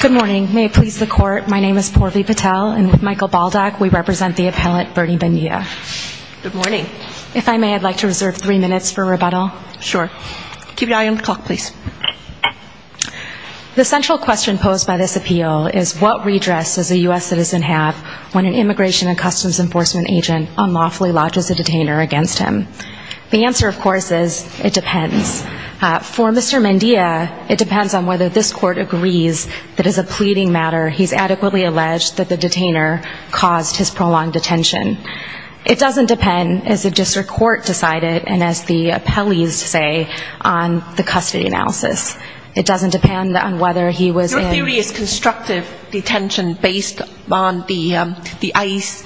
Good morning. May it please the court, my name is Poorvi Patel and with Michael Baldock we represent the appellant Bernie Mendia. Good morning. If I may, I'd like to reserve three minutes for rebuttal. Sure. Keep your eye on the clock, please. The central question posed by this appeal is what redress does a U.S. citizen have when an Immigration and Customs Enforcement agent unlawfully lodges a detainer against him? The answer, of course, is it depends. For Mr. Mendia, it depends on whether this court agrees that as a pleading matter he's adequately alleged that the detainer caused his prolonged detention. It doesn't depend, as the district court decided and as the appellees say, on the custody analysis. It doesn't depend on whether he was in... based on the ICE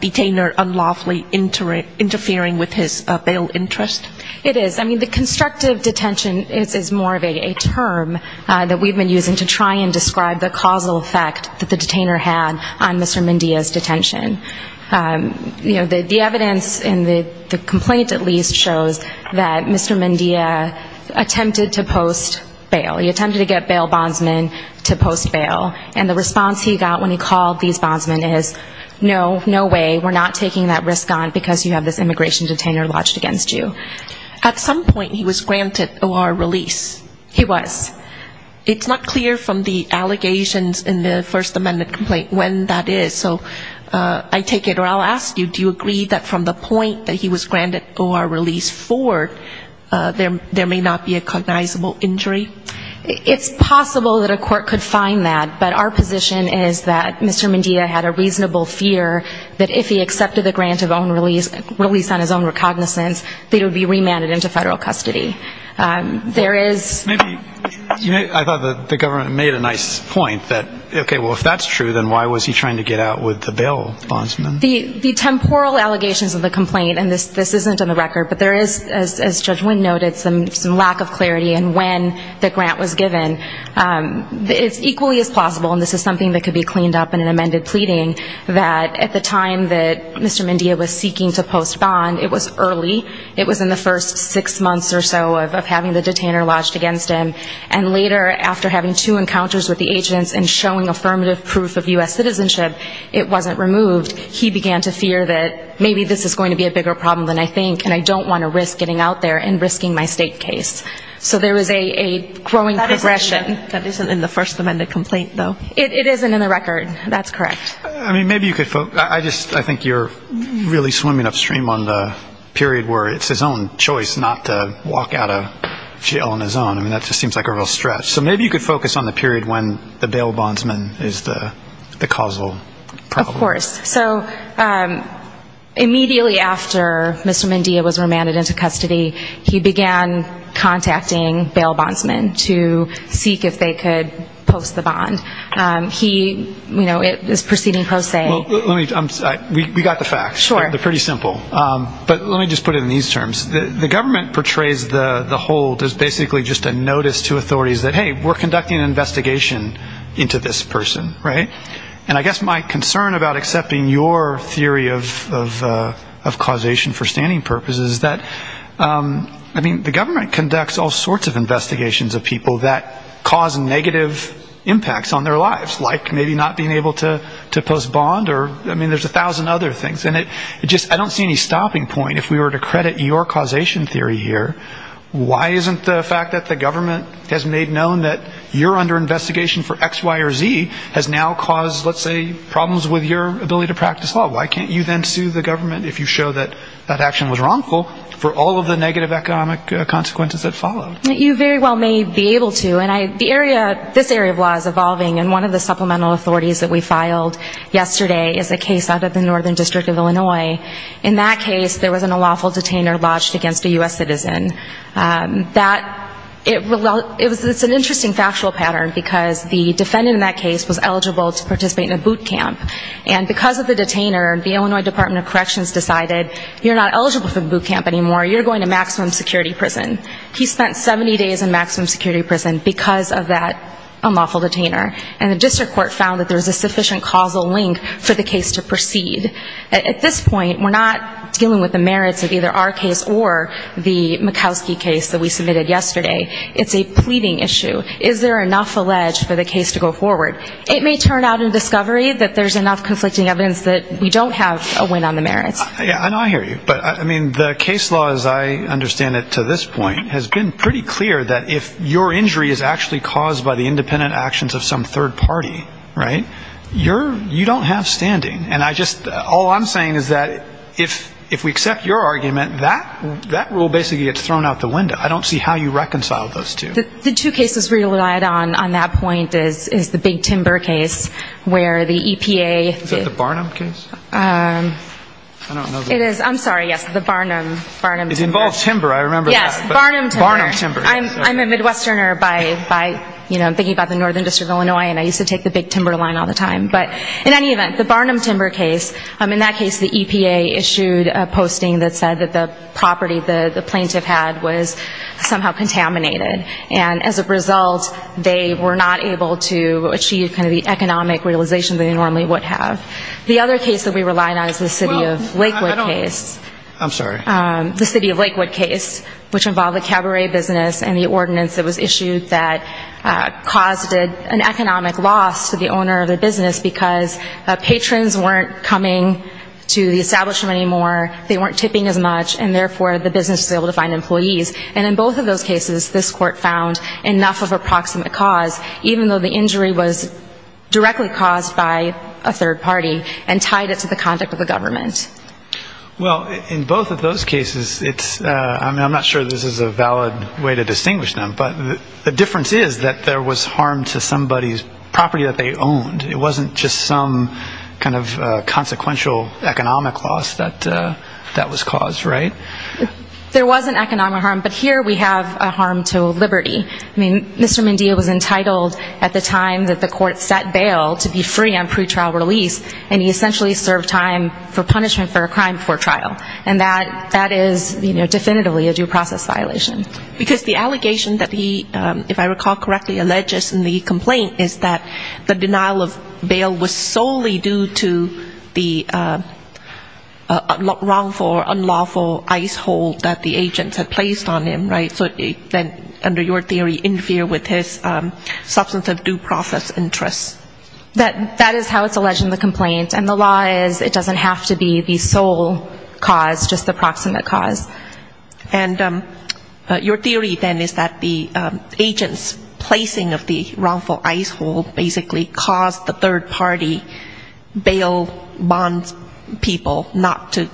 detainer unlawfully interfering with his bail interest? It is. I mean, the constructive detention is more of a term that we've been using to try and describe the causal effect that the detainer had on Mr. Mendia's detention. You know, the evidence in the complaint, at least, shows that Mr. Mendia attempted to post bail. He attempted to get bail bondsmen to post bail. And the response he got when he called these bondsmen is, no, no way, we're not taking that risk on because you have this immigration detainer lodged against you. At some point he was granted O.R. release. He was. It's not clear from the allegations in the First Amendment complaint when that is. So I take it, or I'll ask you, do you agree that from the point that he was granted O.R. release forward, there may not be a cognizable injury? It's possible that a court could find that. But our position is that Mr. Mendia had a reasonable fear that if he accepted the grant of own release, release on his own recognizance, that he would be remanded into federal custody. I thought the government made a nice point that, okay, well, if that's true, then why was he trying to get out with the bail bondsmen? The temporal allegations of the complaint, and this isn't on the record, but there is, as Judge Wynn noted, some lack of clarity in when the grant was given. It's equally as plausible, and this is something that could be cleaned up in an amended pleading, that at the time that Mr. Mendia was seeking to post bond, it was early. It was in the first six months or so of having the detainer lodged against him. And later, after having two encounters with the agents and showing affirmative proof of U.S. citizenship, it wasn't removed. He began to fear that maybe this is going to be a bigger problem than I think, and I don't want to risk getting out there and risking my state case. So there is a growing progression. That isn't in the First Amendment complaint, though. It isn't in the record. That's correct. I think you're really swimming upstream on the period where it's his own choice not to walk out of jail on his own. I mean, that just seems like a real stretch. So maybe you could focus on the period when the bail bondsman is the causal problem. Of course. So immediately after Mr. Mendia was remanded into custody, he began contacting bail bondsmen to seek if they could post the bond. He is proceeding post say. We got the facts. Sure. They're pretty simple. But let me just put it in these terms. The government portrays the hold as basically just a notice to authorities that, hey, we're conducting an investigation into this person, right? And I guess my concern about accepting your theory of causation for standing purposes is that, I mean, the government conducts all sorts of investigations of people that cause negative impacts on their lives, like maybe not being able to post bond or I mean there's a thousand other things. And it just I don't see any stopping point if we were to credit your causation theory here. Why isn't the fact that the government has made known that you're under investigation for X, Y or Z has now caused, let's say, problems with your ability to practice law? Why can't you then sue the government if you show that that action was wrongful for all of the negative economic consequences that followed? You very well may be able to. And the area, this area of law is evolving. And one of the supplemental authorities that we filed yesterday is a case out of the Northern District of Illinois. In that case, there was an unlawful detainer lodged against a U.S. citizen. It's an interesting factual pattern because the defendant in that case was eligible to participate in a boot camp. And because of the detainer, the Illinois Department of Corrections decided you're not eligible for the boot camp anymore. You're going to maximum security prison. He spent 70 days in maximum security prison because of that unlawful detainer. And the district court found that there was a sufficient causal link for the case to proceed. At this point, we're not dealing with the merits of either our case or the Mikowski case that we submitted yesterday. It's a pleading issue. Is there enough alleged for the case to go forward? It may turn out in discovery that there's enough conflicting evidence that we don't have a win on the merits. Yeah, I know I hear you. But, I mean, the case law as I understand it to this point has been pretty clear that if your injury is actually caused by the independent actions of some third party, right, you don't have standing. And I just, all I'm saying is that if we accept your argument, that rule basically gets thrown out the window. I don't see how you reconcile those two. The two cases relied on on that point is the Big Timber case where the EPA. Is that the Barnum case? I don't know. It is. I'm sorry. Yes, the Barnum, Barnum. It involves timber. I remember that. Yes, Barnum timber. Barnum timber. I'm a Midwesterner by, you know, thinking about the Northern District of Illinois and I used to take the Big Timber line all the time. But in any event, the Barnum timber case, in that case the EPA issued a posting that said that the property the plaintiff had was somehow contaminated. And as a result, they were not able to achieve kind of the economic realization that they normally would have. The other case that we relied on is the City of Lakewood case. I'm sorry. The City of Lakewood case, which involved a cabaret business and the ordinance that was issued that caused an economic loss to the owner of the business because patrons weren't coming to the establishment anymore, they weren't tipping as much, and therefore the business was able to find employees. And in both of those cases, this court found enough of a proximate cause, even though the injury was directly caused by a third party and tied it to the conduct of the government. Well, in both of those cases, I'm not sure this is a valid way to distinguish them, but the difference is that there was harm to somebody's property that they owned. It wasn't just some kind of consequential economic loss that was caused, right? There wasn't economic harm, but here we have a harm to liberty. I mean, Mr. Mendia was entitled at the time that the court set bail to be free on pretrial release, and he essentially served time for punishment for a crime before trial. And that is definitively a due process violation. Because the allegation that he, if I recall correctly, alleges in the complaint is that the denial of bail was solely due to the wrongful or unlawful ice hole that the agents had placed on him, right? So it then, under your theory, interfered with his substantive due process interests. That is how it's alleged in the complaint. And the law is it doesn't have to be the sole cause, just the proximate cause. And your theory then is that the agent's placing of the wrongful ice hole basically caused the third party bail bond people not to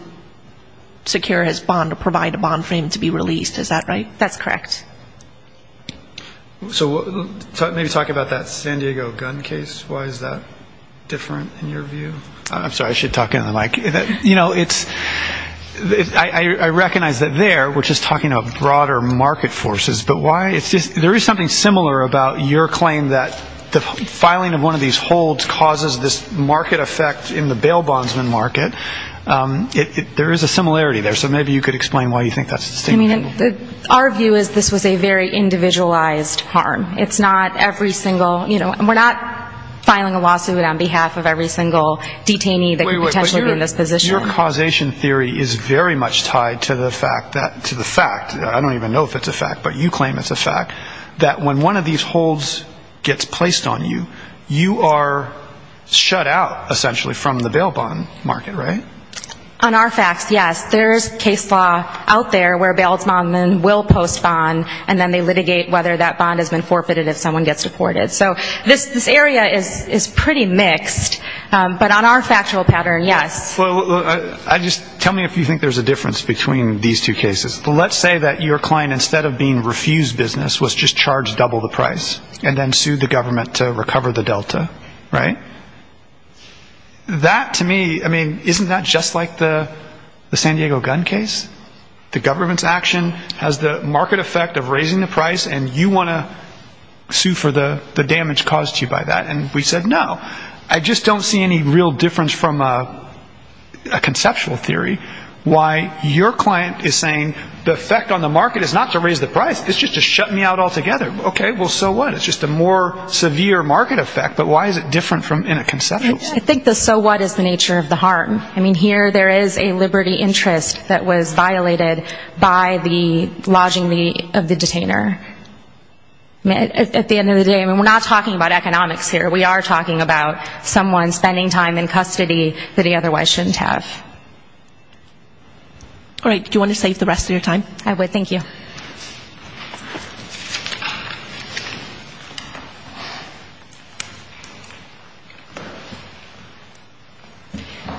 secure his bond or provide a bond for him to be released. Is that right? That's correct. So maybe talk about that San Diego gun case. Why is that different in your view? I'm sorry. I should talk into the mic. You know, it's ‑‑ I recognize that there we're just talking about broader market forces, but why? There is something similar about your claim that the filing of one of these holds causes this market effect in the bail bondsman market. There is a similarity there. So maybe you could explain why you think that's the same thing. I mean, our view is this was a very individualized harm. It's not every single ‑‑ we're not filing a lawsuit on behalf of every single detainee that could potentially be in this position. Your causation theory is very much tied to the fact, I don't even know if it's a fact, but you claim it's a fact, that when one of these holds gets placed on you, you are shut out, essentially, from the bail bond market, right? On our facts, yes. There is case law out there where bail bondsman will postpone, and then they litigate whether that bond has been forfeited if someone gets deported. So this area is pretty mixed. But on our factual pattern, yes. Tell me if you think there's a difference between these two cases. Let's say that your client, instead of being refused business, was just charged double the price and then sued the government to recover the Delta, right? That, to me, I mean, isn't that just like the San Diego gun case? The government's action has the market effect of raising the price, and you want to sue for the damage caused to you by that. And we said, no, I just don't see any real difference from a conceptual theory why your client is saying the effect on the market is not to raise the price, it's just to shut me out altogether. Okay, well, so what? It's just a more severe market effect, but why is it different in a conceptual sense? I think the so what is the nature of the harm. I mean, here there is a liberty interest that was violated by the lodging of the detainer. At the end of the day, I mean, we're not talking about economics here. We are talking about someone spending time in custody that he otherwise shouldn't have. All right, do you want to save the rest of your time? I would. Thank you.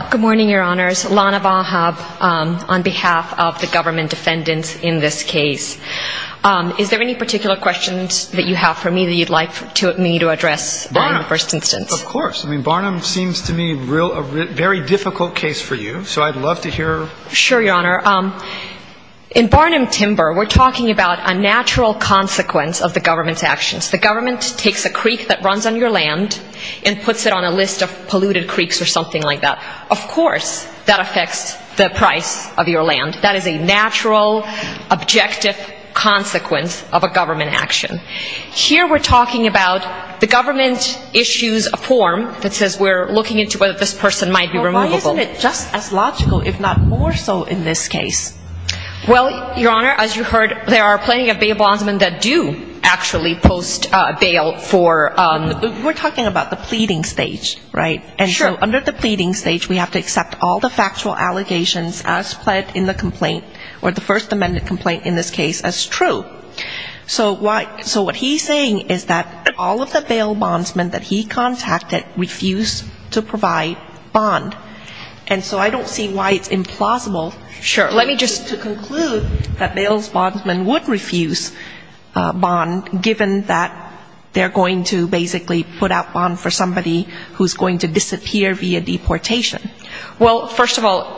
Good morning, Your Honors. Lana Bahab on behalf of the government defendants in this case. Is there any particular questions that you have for me that you'd like me to address in the first instance? Of course. I mean, Barnum seems to me a very difficult case for you, so I'd love to hear. Sure, Your Honor. In Barnum-Timber, we're talking about a natural consequence of the government's actions. The government takes a creek that runs on your land and puts it on a list of polluted creeks or something like that. Of course that affects the price of your land. That is a natural, objective consequence of a government action. Here we're talking about the government issues a form that says we're looking into whether this person might be removable. Isn't it just as logical, if not more so, in this case? Well, Your Honor, as you heard, there are plenty of bail bondsmen that do actually post bail for ‑‑ We're talking about the pleading stage, right? Sure. And so under the pleading stage, we have to accept all the factual allegations as pled in the complaint, or the First Amendment complaint in this case, as true. So what he's saying is that all of the bail bondsmen that he contacted refused to provide bond. And so I don't see why it's implausible. Sure. Let me just conclude that bail bondsmen would refuse bond, given that they're going to basically put out bond for somebody who's going to disappear via deportation. Well, first of all,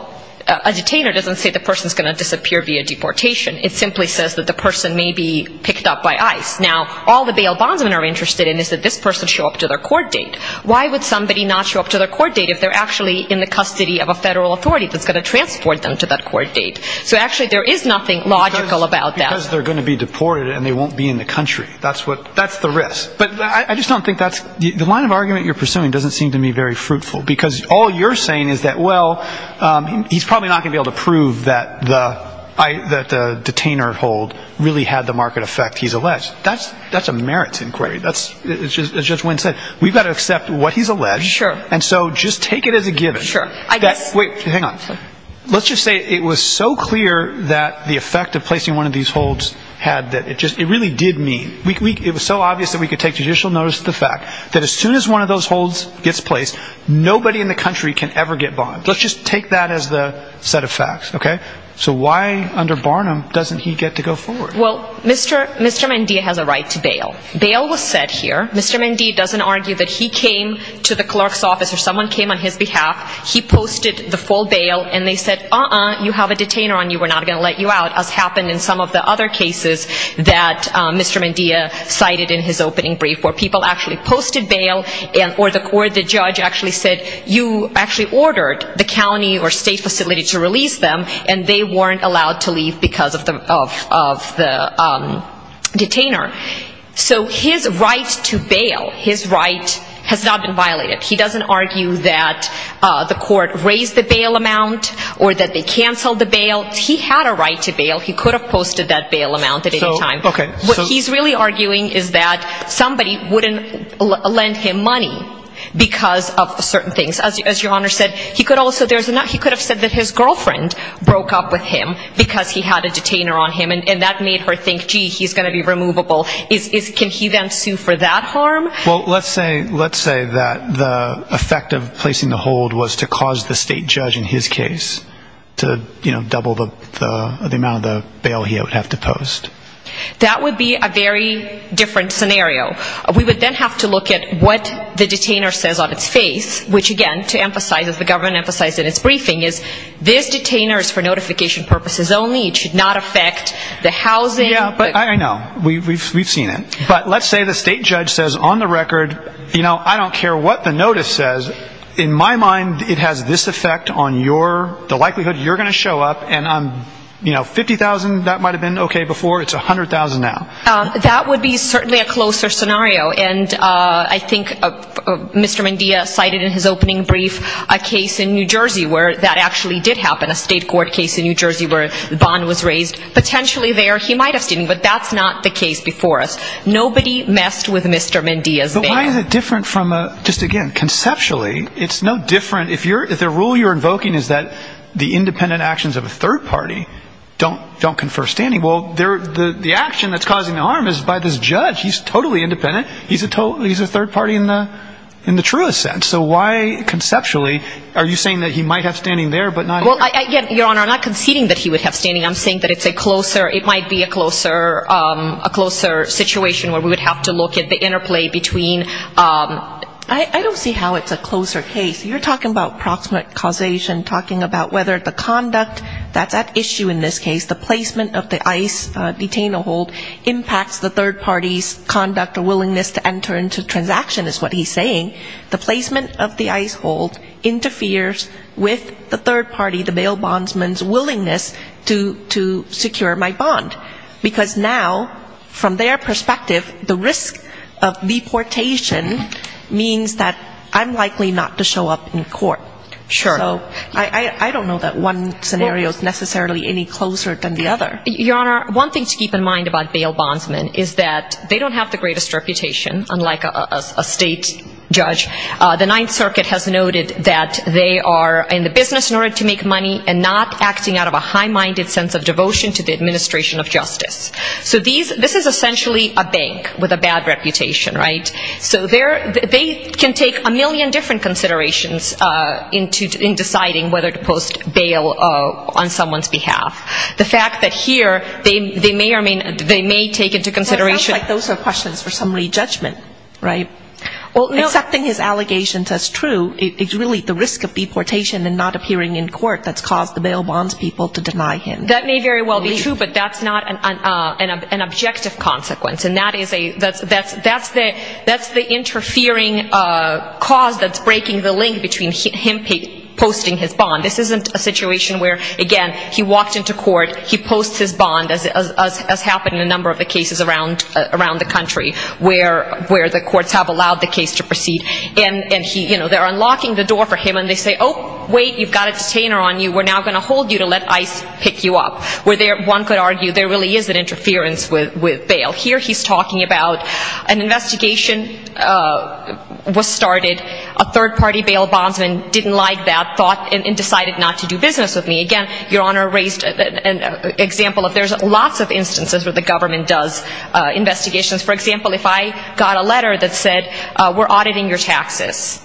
a detainer doesn't say the person's going to disappear via deportation. It simply says that the person may be picked up by ICE. Now, all the bail bondsmen are interested in is that this person show up to their court date. Why would somebody not show up to their court date if they're actually in the custody of a federal authority that's going to transport them to that court date? So actually there is nothing logical about that. Because they're going to be deported and they won't be in the country. That's the risk. But I just don't think that's ‑‑ the line of argument you're pursuing doesn't seem to me very fruitful, because all you're saying is that, well, he's probably not going to be able to prove that the detainer hold really had the marked effect he's alleged. That's a merits inquiry. As Judge Wynn said, we've got to accept what he's alleged. Sure. And so just take it as a given. Sure. I guess. Wait. Hang on. Let's just say it was so clear that the effect of placing one of these holds had that it really did mean. It was so obvious that we could take judicial notice of the fact that as soon as one of those holds gets placed, nobody in the country can ever get bond. Let's just take that as the set of facts. Okay? So why under Barnum doesn't he get to go forward? Well, Mr. Mendea has a right to bail. Bail was set here. Mr. Mendea doesn't argue that he came to the clerk's office or someone came on his behalf. He posted the full bail and they said, uh‑uh, you have a detainer on you. We're not going to let you out as happened in some of the other cases that Mr. Mendea cited in his opening brief where people actually posted bail or the court, the judge actually said you actually ordered the county or state facility to release them and they weren't allowed to leave because of the detainer. So his right to bail, his right has not been violated. He doesn't argue that the court raised the bail amount or that they canceled the bail. He had a right to bail. He could have posted that bail amount at any time. Okay. What he's really arguing is that somebody wouldn't lend him money because of certain things. As your honor said, he could also ‑‑ he could have said that his girlfriend broke up with him because he had a detainer on him and that made her think, gee, he's going to be removable. Can he then sue for that harm? Well, let's say that the effect of placing the hold was to cause the state judge in his case to double the amount of the bail he would have to post. That would be a very different scenario. We would then have to look at what the detainer says on its face, which, again, to emphasize, as the government emphasized in its briefing, is this detainer is for notification purposes only. It should not affect the housing. Yeah, I know. We've seen it. But let's say the state judge says on the record, you know, I don't care what the notice says. In my mind, it has this effect on your ‑‑ the likelihood you're going to show up and, you know, 50,000, that might have been okay before. It's 100,000 now. That would be certainly a closer scenario. And I think Mr. Mendia cited in his opening brief a case in New Jersey where that actually did happen, a state court case in New Jersey where the bond was raised. Potentially there he might have seen, but that's not the case before us. Nobody messed with Mr. Mendia's bank. Why is it different from a ‑‑ just again, conceptually, it's no different. If the rule you're invoking is that the independent actions of a third party don't confer standing, well, the action that's causing harm is by this judge. He's totally independent. He's a third party in the truest sense. So why conceptually are you saying that he might have standing there but not here? Well, Your Honor, I'm not conceding that he would have standing. I'm saying that it's a closer ‑‑ it might be a closer situation where we would have to look at the interplay between ‑‑ I don't see how it's a closer case. You're talking about proximate causation, talking about whether the conduct that's at issue in this case, the placement of the ICE detainer hold impacts the third party's conduct or willingness to enter into transaction is what he's saying. The placement of the ICE hold interferes with the third party, the bail bondsman's willingness to secure my bond. Because now, from their perspective, the risk of deportation means that I'm likely not to show up in court. Sure. So I don't know that one scenario is necessarily any closer than the other. Your Honor, one thing to keep in mind about bail bondsmen is that they don't have the greatest reputation, unlike a state judge. The Ninth Circuit has noted that they are in the business in order to make money and not acting out of a high‑minded sense of devotion to the administration of justice. So this is essentially a bank with a bad reputation, right? So they can take a million different considerations in deciding whether to post bail on someone's behalf. The fact that here they may take into consideration ‑‑ It sounds like those are questions for some rejudgment, right? Accepting his allegations as true is really the risk of deportation and not appearing in court that's caused the bail bondspeople to deny him. That may very well be true, but that's not an objective consequence. And that is a ‑‑ that's the interfering cause that's breaking the link between him posting his bond. This isn't a situation where, again, he walked into court, he posts his bond, as happened in a number of the cases around the country where the courts have allowed the case to proceed. And, you know, they're unlocking the door for him and they say, oh, wait, you've got a detainer on you, we're now going to hold you to let ICE pick you up. Where one could argue there really is an interference with bail. Here he's talking about an investigation was started, a third‑party bail bondsman didn't like that, thought and decided not to do business with me. Again, Your Honor raised an example of there's lots of instances where the government does investigations. For example, if I got a letter that said we're auditing your taxes,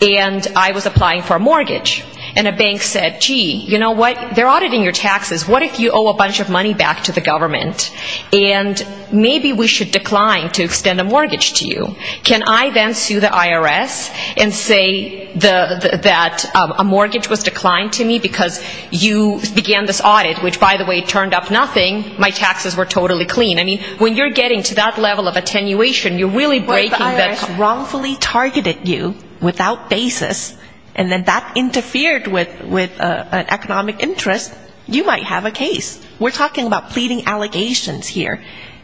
and I was applying for a mortgage, and a bank said, gee, you know what, they're auditing your taxes, what if you owe a bunch of money back to the government, and maybe we should decline to extend a mortgage to you, can I then sue the IRS and say that a mortgage was declined to me because you began this audit, which, by the way, turned up nothing, my taxes were totally clean. I mean, when you're getting to that level of attenuation, you're really breaking the ‑‑ If the IRS wrongfully targeted you without basis, and then that interfered with an economic interest, you might have a case. We're talking about pleading allegations here.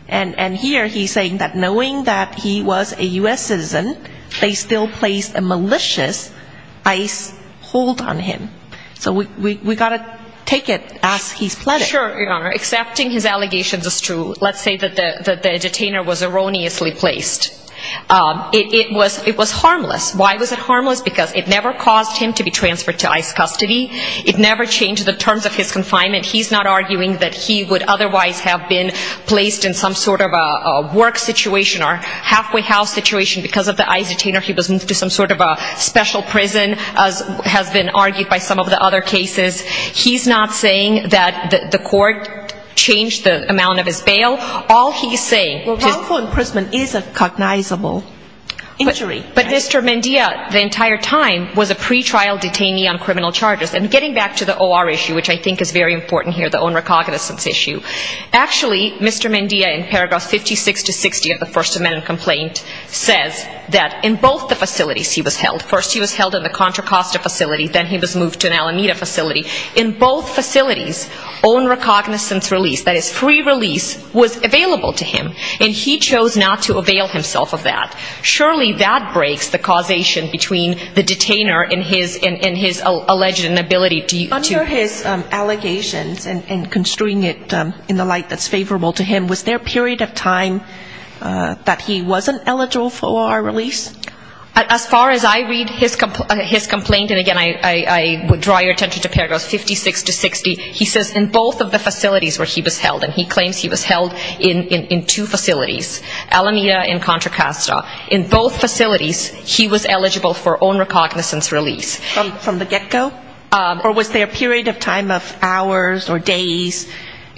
And here he's saying that knowing that he was a U.S. citizen, they still placed a malicious ICE hold on him. So we've got to take it as he's pleading. Sure, Your Honor. Accepting his allegations is true. Let's say that the detainer was erroneously placed. It was harmless. Why was it harmless? Because it never caused him to be transferred to ICE custody. It never changed the terms of his confinement. He's not arguing that he would otherwise have been placed in some sort of a work situation or halfway house situation because of the ICE detainer. He was moved to some sort of a special prison, as has been argued by some of the other cases. He's not saying that the court changed the amount of his bail. All he's saying is ‑‑ Well, wrongful imprisonment is a cognizable injury. But Mr. Mendia, the entire time, was a pretrial detainee on criminal charges. And getting back to the O.R. issue, which I think is very important here, the own recognizance issue, actually, Mr. Mendia, in paragraphs 56 to 60 of the First Amendment complaint, says that in both the facilities he was held, first he was held in the Contra Costa facility, then he was moved to an Alameda facility, in both facilities, own recognizance release, that is, free release, was available to him, and he chose not to avail himself of that. Surely that breaks the causation between the detainer and his alleged inability to be released. Under his allegations, and construing it in the light that's favorable to him, was there a period of time that he wasn't eligible for O.R. release? As far as I read his complaint, and again, I would draw your attention to paragraphs 56 to 60, he says in both of the facilities where he was held, and he claims he was held in two facilities, Alameda and Contra Costa, in both facilities, he was eligible for own recognizance release. From the get-go? Or was there a period of time of hours or days?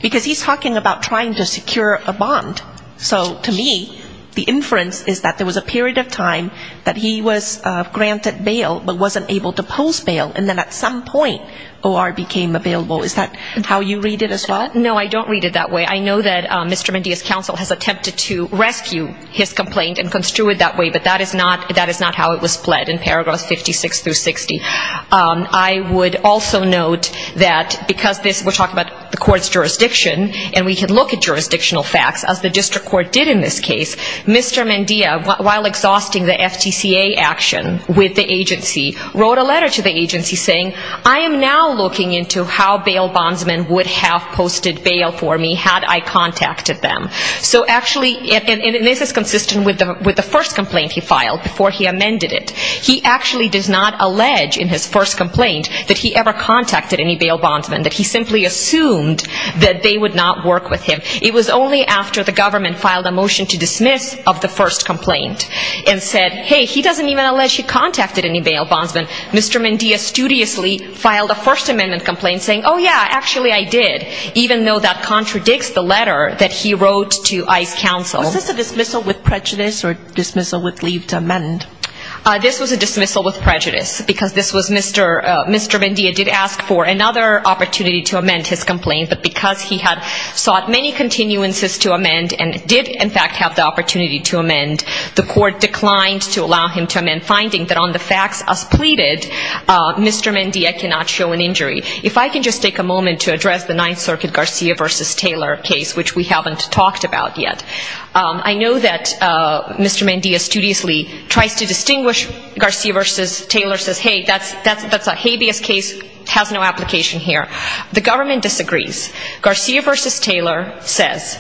Because he's talking about trying to secure a bond. So to me, the inference is that there was a period of time that he was granted bail, but wasn't able to post bail, and then at some point O.R. became available. Is that how you read it as well? No, I don't read it that way. I know that Mr. Mendia's counsel has attempted to rescue his complaint and construe it that way, but that is not how it was pled in paragraphs 56 through 60. I would also note that because this, we're talking about the court's jurisdiction, and we can look at jurisdictional facts, as the district court did in this case, Mr. Mendia, while exhausting the FTCA action with the agency, wrote a letter to the agency saying, I am now looking into how bail bondsmen would have posted bail for me had I contacted them. So actually, and this is consistent with the first complaint he filed before he amended it. He actually does not allege in his first complaint that he ever contacted any bail bondsmen, that he simply assumed that they would not work with him. It was only after the government filed a motion to dismiss of the first complaint and said, hey, he doesn't even allege he contacted any bail bondsmen. Mr. Mendia studiously filed a First Amendment complaint saying, oh, yeah, actually I did, even though that contradicts the letter that he wrote to ICE counsel. Was this a dismissal with prejudice or dismissal with leave to amend? This was a dismissal with prejudice, because this was Mr. Mendia did ask for another opportunity to amend his complaint, but because he had sought many continuances to amend and did in fact have the opportunity to amend, the court declined to allow him to amend, finding that on the facts as pleaded, Mr. Mendia cannot show an injury. If I can just take a moment to address the Ninth Circuit Garcia v. Taylor case, which we haven't talked about yet. I know that Mr. Mendia studiously tries to distinguish Garcia v. Taylor, says, hey, that's a habeas case, has no application here. The government disagrees. Garcia v. Taylor says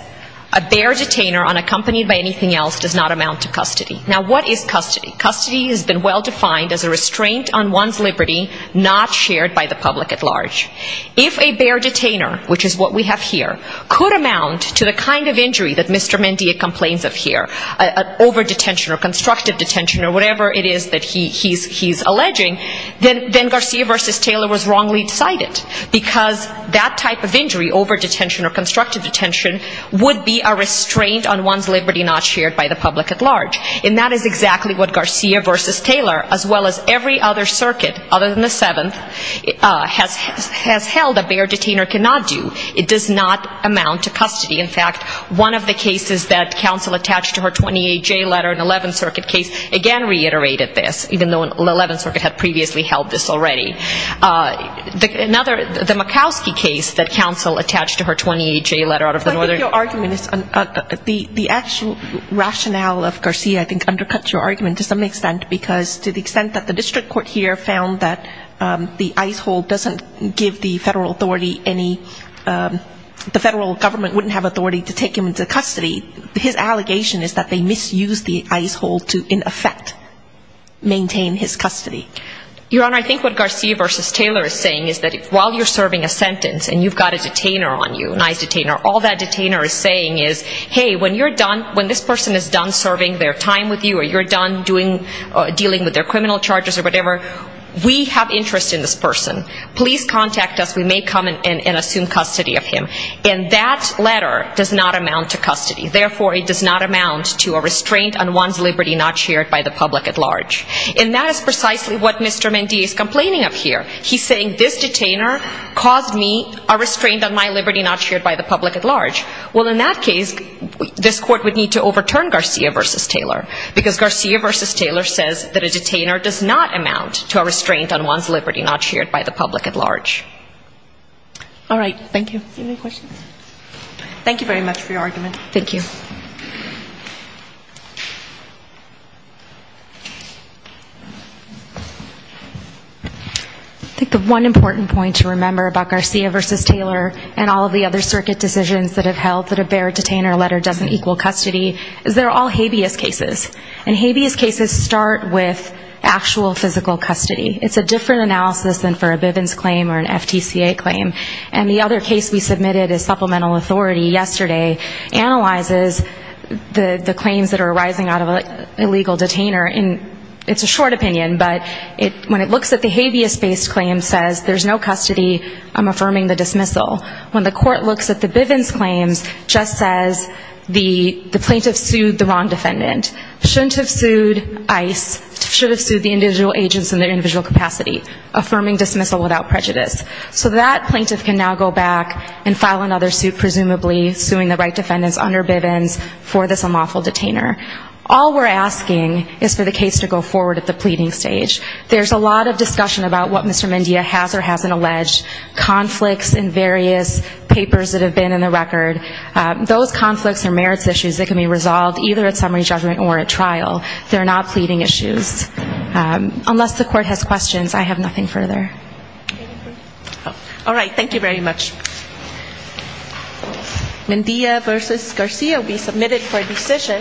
a bare detainer unaccompanied by anything else does not amount to custody. Now, what is custody? Custody has been well defined as a restraint on one's liberty, not shared by the public at law. If a bare detainer, which is what we have here, could amount to the kind of injury that Mr. Mendia complains of here, over-detention or constructive detention or whatever it is that he's alleging, then Garcia v. Taylor was wrongly decided, because that type of injury, over-detention or constructive detention, would be a restraint on one's liberty not shared by the public at large. And that is exactly what Garcia v. Taylor, as well as every other circuit other than the Seventh, has held a bare detainer cannot do. It does not amount to custody. In fact, one of the cases that counsel attached to her 28J letter, an 11th Circuit case, again reiterated this, even though 11th Circuit had previously held this already. Another, the Murkowski case that counsel attached to her 28J letter out of the Northern... I think your argument is, the actual rationale of Garcia, I think, undercuts your argument to some extent, because to the extent that the district court here found that the ICE hold doesn't give the federal authority any, the federal government wouldn't have authority to take him into custody, his allegation is that they misused the ICE hold to, in effect, maintain his custody. Your Honor, I think what Garcia v. Taylor is saying is that while you're serving a sentence and you've got a detainer on you, an ICE detainer, all that detainer is saying is, hey, when you're done, when this person is done serving their time with you or you're done dealing with their criminal charges or whatever, we have interest in this person. Please contact us. We may come and assume custody of him. And that letter does not amount to custody. Therefore, it does not amount to a restraint on one's liberty not shared by the public at large. And that is precisely what Mr. Mendee is complaining of here. He's saying this detainer caused me a restraint on my liberty not shared by the public at large. Well, in that case, this court would need to overturn Garcia v. Taylor, because Garcia v. Taylor says that a detainer does not amount to a restraint on one's liberty not shared by the public at large. All right. Thank you. Any questions? Thank you very much for your argument. Thank you. I think the one important point to remember about Garcia v. Taylor and all of the other circuit decisions that have held that a bare detainer letter doesn't equal custody is they're all habeas cases. And habeas cases start with actual physical custody. It's a different analysis than for a Bivens claim or an FTCA claim. And the other case we submitted as supplemental authority yesterday analyzes the claims that are arising out of an illegal detainer. It's a short opinion, but when it looks at the habeas-based claim, it says there's no custody. I'm affirming the dismissal. When the court looks at the Bivens claims, it just says the plaintiff sued the wrong defendant. Shouldn't have sued ICE, should have sued the individual agents in their individual capacity. Affirming dismissal without prejudice. So that plaintiff can now go back and file another suit, presumably suing the right defendants under Bivens for this unlawful detainer. All we're asking is for the case to go forward at the pleading stage. There's a lot of discussion about what Mr. Mendia has or hasn't alleged. Conflicts in various papers that have been in the record. Those conflicts are merits issues that can be resolved either at summary judgment or at trial. They're not pleading issues. Unless the court has questions, I have nothing further. All right. Thank you very much. Mendia v. Garcia will be submitted for decision.